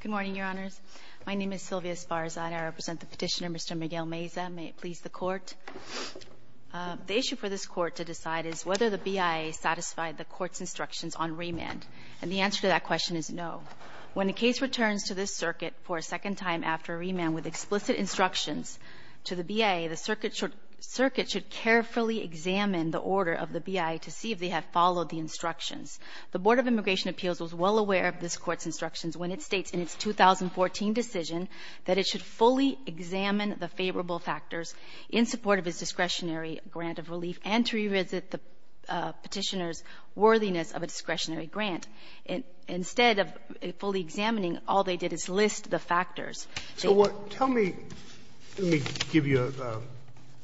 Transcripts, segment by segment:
Good morning, Your Honors. My name is Sylvia Esparza and I represent the petitioner, Mr. Miguel Meza. May it please the Court. The issue for this Court to decide is whether the BIA satisfied the Court's instructions on remand. And the answer to that question is no. When a case returns to this Circuit for a second time after remand with explicit instructions to the BIA, the Circuit should carefully examine the order of the BIA to see if they have followed the instructions. The Board of Immigration Appeals was well aware of this Court's instructions when it states in its 2014 decision that it should fully examine the favorable factors in support of its discretionary grant of relief and to revisit the petitioner's worthiness of a discretionary grant. Instead of fully examining, all they did is list the factors. Sotomayor So tell me, let me give you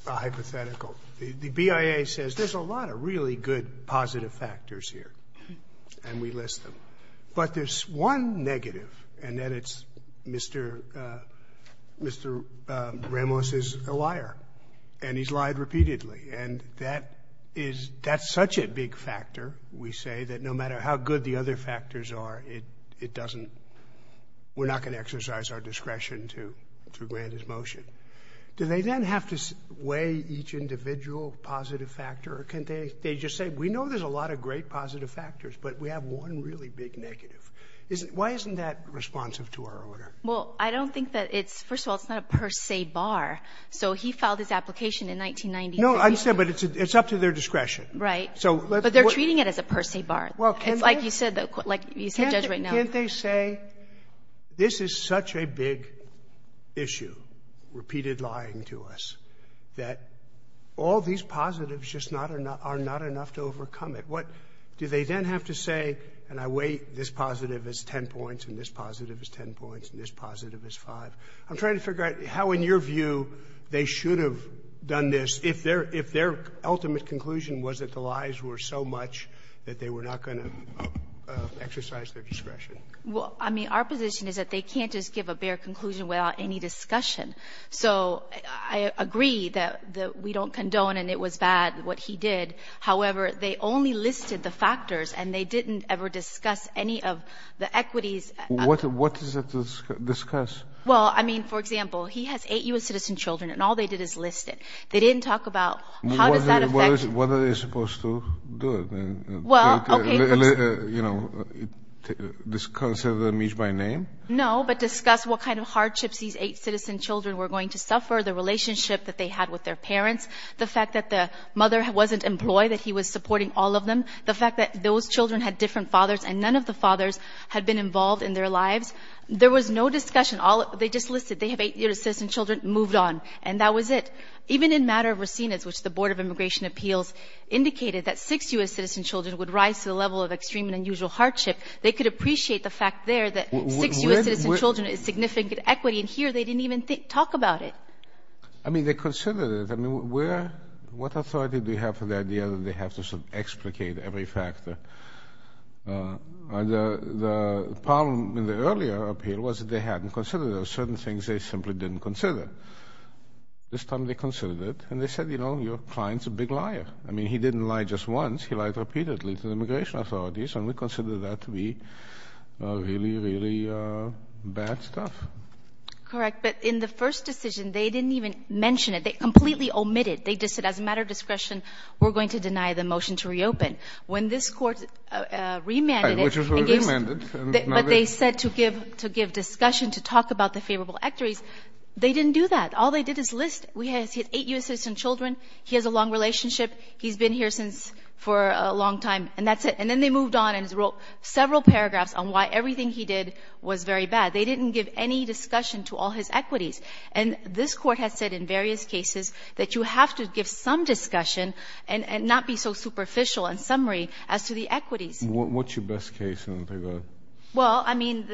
a hypothetical. The BIA says there's a lot of really good positive factors here, and we list them. But there's one negative, and that it's Mr. Ramos is a liar, and he's lied repeatedly. And that is, that's such a big factor, we say, that no matter how good the other factors are, it doesn't, we're not going to exercise our discretion to grant his motion. Do they then have to weigh each individual positive factor, or can they just say, we know there's a lot of great positive factors, but we have one really big negative? Why isn't that responsive to our order? Saharsky Well, I don't think that it's, first of all, it's not a per se bar. So he filed his application in 1996. Sotomayor No, I understand, but it's up to their discretion. Saharsky Right. But they're treating it as a per se bar. It's like you said, like you said, Judge, right now. Can't they say, this is such a big issue, repeated lying to us, that all these positives just are not enough to overcome it? Do they then have to say, and I weigh this positive as 10 points, and this positive as 10 points, and this positive as 5? I'm trying to figure out how, in your view, they should have done this if their ultimate conclusion was that the lies were so much that they were not going to exercise their discretion. Saharsky Well, I mean, our position is that they can't just give a bare conclusion without any discussion. So I agree that we don't condone, and it was bad what he did. However, they only listed the factors, and they didn't ever discuss any of the equities. Sotomayor What is it to discuss? Saharsky Well, I mean, for example, he has eight U.S. citizen children, and all they did is list it. They didn't talk about how does that affect? What are they supposed to do? You know, discuss it by name? Saharsky No, but discuss what kind of hardships these eight citizen children were going to suffer, the relationship that they had with their parents, the fact that the mother wasn't employed, that he was supporting all of them, the fact that those children had different fathers, and none of the fathers had been involved in their lives. There was no discussion. They just listed they have eight U.S. citizen children and moved on, and that was it. Saharsky But even in matter of Rosinas, which the Board of Immigration Appeals indicated, that six U.S. citizen children would rise to the level of extreme and unusual hardship, they could appreciate the fact there that six U.S. citizen children is significant equity, and here they didn't even talk about it. Sotomayor I mean, they considered it. I mean, what authority do you have for the idea that they have to sort of explicate every factor? The problem in the earlier appeal was that they hadn't considered those certain things they simply didn't consider. This time they considered it, and they said, you know, your client's a big liar. I mean, he didn't lie just once. He lied repeatedly to the immigration authorities, and we consider that to be really, really bad stuff. Saharsky Correct. But in the first decision, they didn't even mention it. They completely omitted it. They just said, as a matter of discretion, we're going to deny the motion to reopen. When this Court remanded it, but they said to give discussion, to talk about the favorable equities, they didn't do that. All they did is list. He has eight U.S. citizen children. He has a long relationship. He's been here for a long time, and that's it. And then they moved on and wrote several paragraphs on why everything he did was very bad. They didn't give any discussion to all his equities. And this Court has said in various cases that you have to give some discussion and not be so superficial and summary as to the equities. What's your best case? Well, I mean,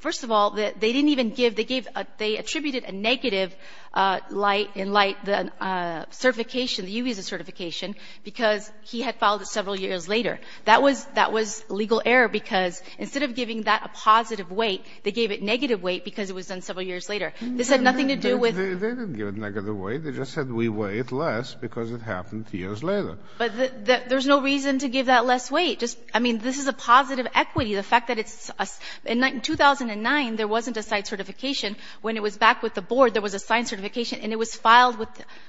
first of all, they didn't even give the case. They attributed a negative in light of the certification, the UBESA certification, because he had filed it several years later. That was legal error because instead of giving that a positive weight, they gave it a negative weight because it was done several years later. This had nothing to do with. They didn't give it a negative weight. They just said we weigh it less because it happened years later. But there's no reason to give that less weight. I mean, this is a positive equity. The fact that it's — in 2009, there wasn't a site certification. When it was back with the Board, there was a site certification, and it was filed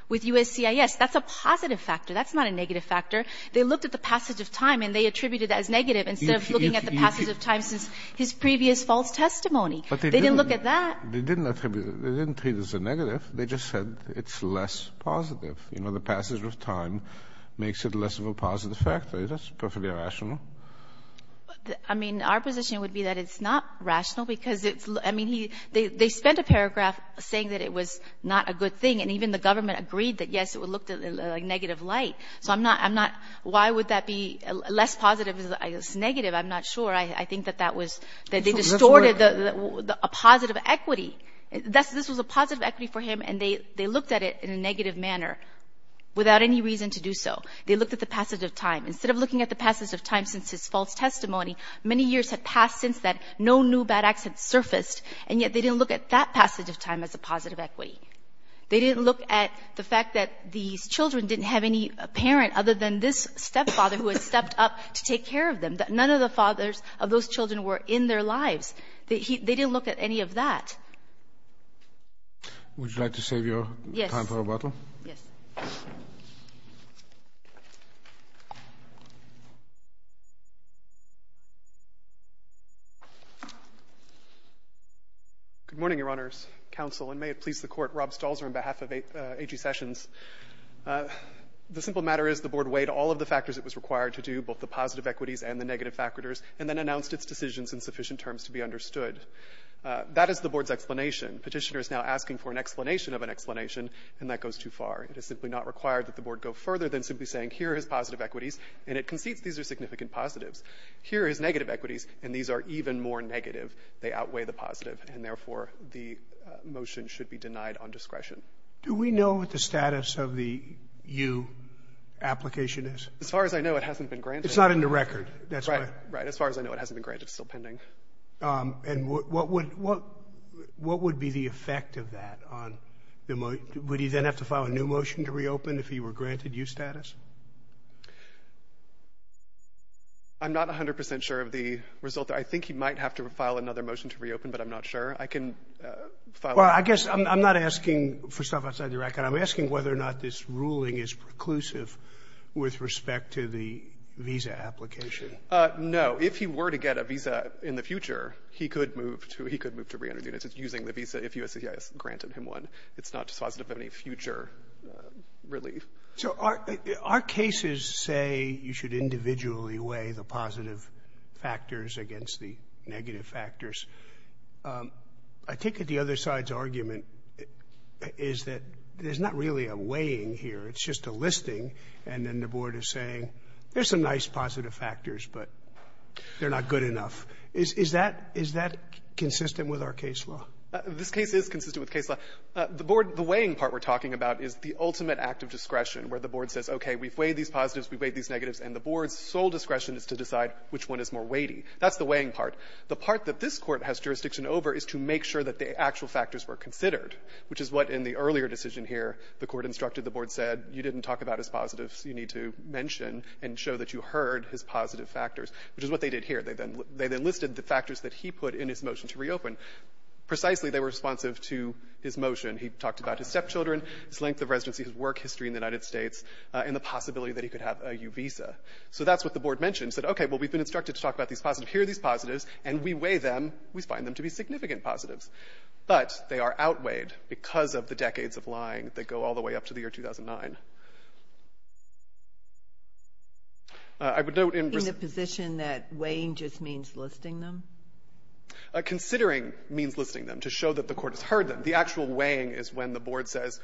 with USCIS. That's a positive factor. That's not a negative factor. They looked at the passage of time, and they attributed that as negative instead of looking at the passage of time since his previous false testimony. They didn't look at that. They didn't attribute it. They didn't treat it as a negative. They just said it's less positive. You know, the passage of time makes it less of a positive factor. That's perfectly rational. I mean, our position would be that it's not rational because it's — I mean, he — they spent a paragraph saying that it was not a good thing, and even the government agreed that, yes, it looked like negative light. So I'm not — I'm not — why would that be less positive as negative? I'm not sure. I think that that was — that they distorted a positive equity. This was a positive equity for him, and they looked at it in a negative manner without any reason to do so. They looked at the passage of time. Instead of looking at the passage of time since his false testimony, many years had passed since that no new bad acts had surfaced, and yet they didn't look at that passage of time as a positive equity. They didn't look at the fact that these children didn't have any parent other than this stepfather who had stepped up to take care of them, that none of the fathers of those children were in their lives. They didn't look at any of that. Would you like to save your time for rebuttal? Yes. Yes. Good morning, Your Honors. Counsel, and may it please the Court, Rob Stalzer on behalf of A.G. Sessions. The simple matter is the Board weighed all of the factors it was required to do, both the positive equities and the negative factors, and then announced its decisions in sufficient terms to be understood. That is the Board's explanation. Petitioner is now asking for an explanation of an explanation, and that goes too far. It is simply not required that the Board go further than simply saying, here are his positive equities, and it concedes these are significant positives. Here are his negative equities, and these are even more negative. They outweigh the positive, and, therefore, the motion should be denied on discretion. Do we know what the status of the U application is? As far as I know, it hasn't been granted. It's not in the record. Right. Right. As far as I know, it hasn't been granted. It's still pending. And what would be the effect of that on the motion? Would he then have to file a new motion to reopen if he were granted U status? I'm not 100 percent sure of the result. I think he might have to file another motion to reopen, but I'm not sure. I can file a motion. Well, I guess I'm not asking for stuff outside the record. I'm asking whether or not this ruling is preclusive with respect to the visa application. No. If he were to get a visa in the future, he could move to re-enter the unit. It's using the visa if USCIS granted him one. It's not dispositive of any future relief. So our cases say you should individually weigh the positive factors against the negative factors. I take it the other side's argument is that there's not really a weighing here. It's just a listing. And then the Board is saying there's some nice positive factors, but they're not good enough. Is that consistent with our case law? This case is consistent with case law. The weighing part we're talking about is the ultimate act of discretion where the Board says, okay, we've weighed these positives, we've weighed these negatives, and the Board's sole discretion is to decide which one is more weighty. That's the weighing part. The part that this Court has jurisdiction over is to make sure that the actual factors were considered, which is what in the earlier decision here the Court instructed the Board said, you didn't talk about his positives, you need to mention and show that you heard his positive factors, which is what they did here. They then listed the factors that he put in his motion to reopen. Precisely, they were responsive to his motion. He talked about his stepchildren, his length of residency, his work history in the United States, and the possibility that he could have a U visa. So that's what the Board mentioned, said, okay, well, we've been instructed to talk about these positives, here are these positives, and we weigh them, we find them to be significant positives. But they are outweighed because of the decades of lying that go all the way up to the year 2009. I would note in the position that weighing just means listing them? Considering means listing them to show that the Court has heard them. The actual weighing is when the Board says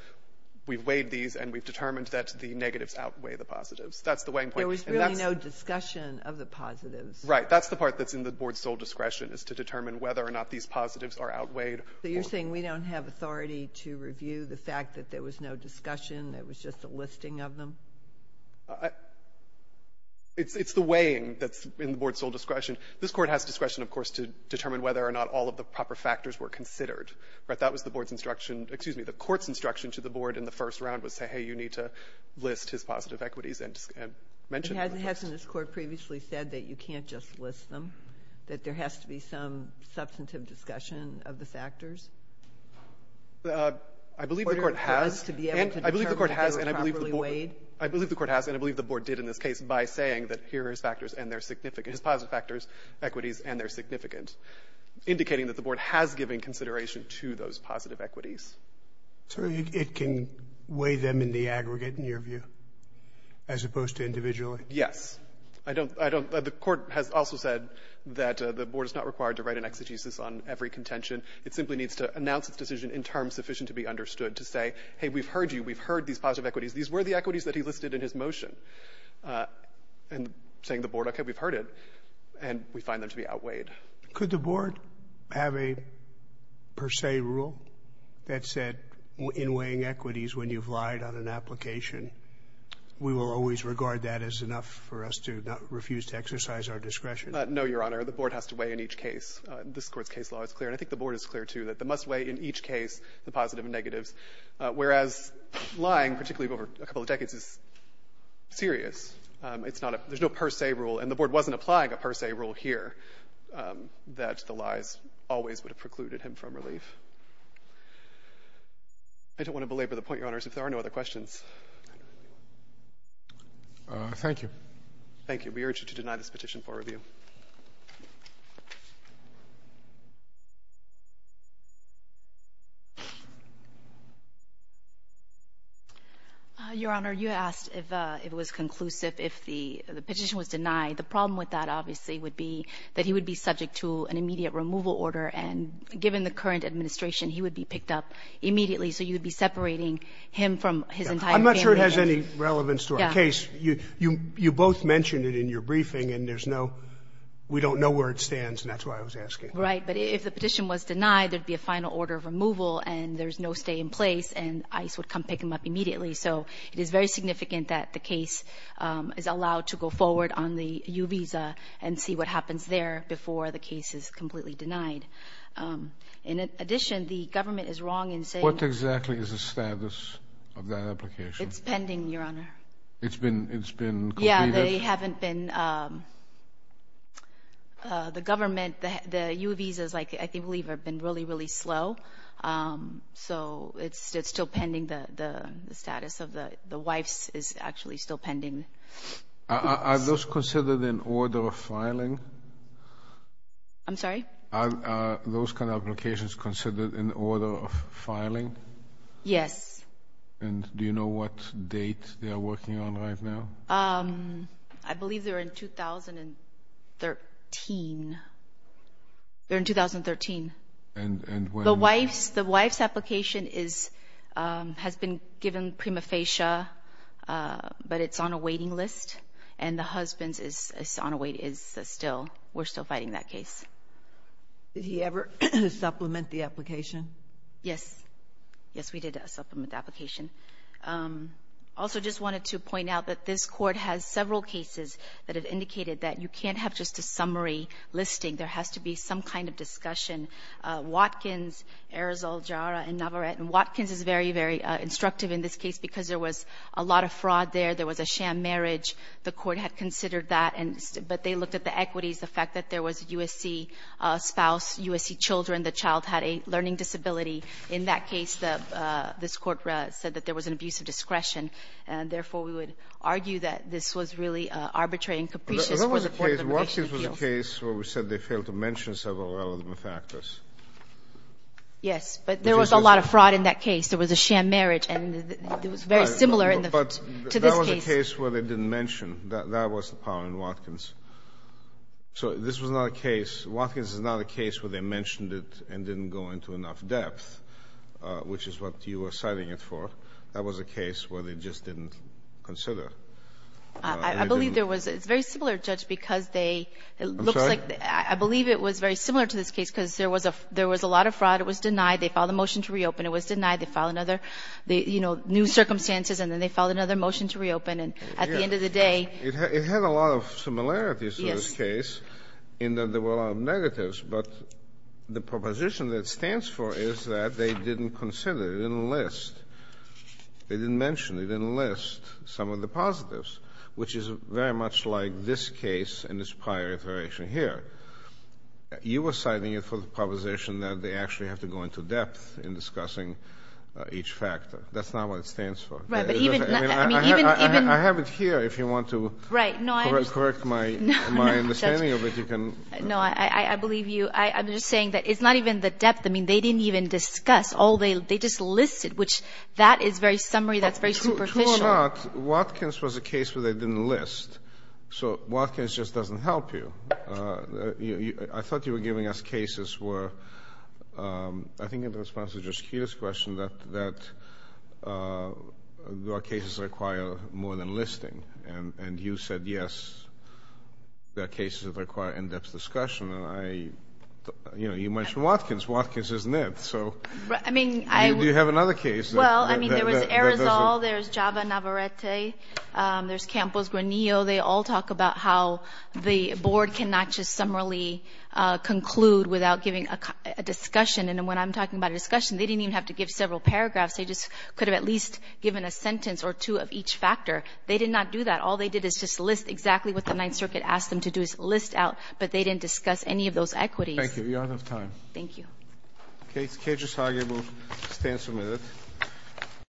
we've weighed these and we've determined that the negatives outweigh the positives. That's the weighing point. There was really no discussion of the positives. Right. That's the part that's in the Board's sole discretion is to determine whether or not these positives are outweighed. So you're saying we don't have authority to review the fact that there was no discussion, it was just a listing of them? It's the weighing that's in the Board's sole discretion. This Court has discretion, of course, to determine whether or not all of the proper factors were considered. Right. That was the Board's instruction, excuse me, the Court's instruction to the Board in the first round was to say, hey, you need to list his positive equities and mention them. Hasn't this Court previously said that you can't just list them, that there has to be some substantive discussion of the factors? I believe the Court has. In order for us to be able to determine if they were properly weighed? I believe the Court has and I believe the Board did in this case by saying that here are his factors and they're significant, his positive factors, equities and they're significant, indicating that the Board has given consideration to those positive equities. So it can weigh them in the aggregate, in your view, as opposed to individually? Yes. I don't, I don't, the Court has also said that the Board is not required to write an exegesis on every contention. It simply needs to announce its decision in terms sufficient to be understood to say, hey, we've heard you. We've heard these positive equities. These were the equities that he listed in his motion. And saying to the Board, okay, we've heard it, and we find them to be outweighed. Could the Board have a per se rule that said in weighing equities when you've lied on an application? We will always regard that as enough for us to not refuse to exercise our discretion. No, Your Honor. The Board has to weigh in each case. This Court's case law is clear, and I think the Board is clear, too, that they must weigh in each case the positive and negatives, whereas lying, particularly over a couple of decades, is serious. It's not a, there's no per se rule, and the Board wasn't applying a per se rule here that the lies always would have precluded him from relief. I don't want to belabor the point, Your Honors, if there are no other questions. Thank you. Thank you. We urge you to deny this petition for review. Your Honor, you asked if it was conclusive, if the petition was denied. The problem with that, obviously, would be that he would be subject to an immediate removal order, and given the current administration, he would be picked up immediately. So you'd be separating him from his entire family. I'm not sure it has any relevance to our case. You both mentioned it in your briefing, and there's no, we don't know where it stands, and that's why I was asking. Right. But if the petition was denied, there'd be a final order of removal, and there's no stay in place, and ICE would come pick him up immediately. So it is very significant that the case is allowed to go forward on the U visa and see what happens there before the case is completely denied. In addition, the government is wrong in saying... What exactly is the status of that application? It's pending, Your Honor. It's been completed? Yeah, they haven't been, the government, the U visas, I believe, have been really, really slow. So it's still pending. The status of the wives is actually still pending. Are those considered in order of filing? I'm sorry? Are those kind of applications considered in order of filing? Yes. And do you know what date they are working on right now? I believe they're in 2013. They're in 2013. And when... The wife's application has been given prima facie, but it's on a waiting list, and the husband's is on a wait, is still, we're still fighting that case. Did he ever supplement the application? Yes. Yes, we did supplement the application. Also, just wanted to point out that this Court has several cases that have indicated that you can't have just a summary listing. There has to be some kind of discussion. Watkins, Arizal, Jara, and Navarrete, and Watkins is very, very instructive in this case because there was a lot of fraud there. There was a sham marriage. The Court had considered that, but they looked at the equities, the fact that there was a USC spouse, USC children, the child had a learning disability. In that case, this Court said that there was an abuse of discretion, and therefore we would argue that this was really arbitrary and capricious for the Court of Immigration to deal with. Watkins was a case where we said they failed to mention several relevant factors. Yes, but there was a lot of fraud in that case. There was a sham marriage, and it was very similar to this case. But that was a case where they didn't mention. That was the power in Watkins. So this was not a case, Watkins is not a case where they mentioned it and didn't go into enough depth, which is what you were citing it for. That was a case where they just didn't consider. I believe there was, it's very similar, Judge, because they, it looks like, I believe it was very similar to this case because there was a lot of fraud. It was denied. They filed a motion to reopen. It was denied. They filed another, you know, new circumstances, and then they filed another motion to reopen. And at the end of the day ---- It had a lot of similarities to this case in that there were a lot of negatives. But the proposition that it stands for is that they didn't consider, they didn't list, they didn't mention, they didn't list some of the positives, which is very much like this case and this prior iteration here. You were citing it for the proposition that they actually have to go into depth in discussing each factor. That's not what it stands for. I have it here if you want to correct my understanding of it. No, I believe you. I'm just saying that it's not even the depth. I mean, they didn't even discuss. They just listed, which that is very summary, that's very superficial. True or not, Watkins was a case where they didn't list. So Watkins just doesn't help you. I thought you were giving us cases where, I think in response to Justita's question, that there are cases that require more than listing. And you said, yes, there are cases that require in-depth discussion. And I, you know, you mentioned Watkins. Watkins isn't it. So do you have another case that does it? Well, I mean, there was Arizal, there's Java Navarrete, there's Campos Granillo. They all talk about how the board cannot just summarily conclude without giving a discussion. And when I'm talking about a discussion, they didn't even have to give several paragraphs. They just could have at least given a sentence or two of each factor. They did not do that. All they did is just list exactly what the Ninth Circuit asked them to do is list out. But they didn't discuss any of those equities. Thank you. We don't have time. Thank you. The case Kedrus-Hagebu stands submitted.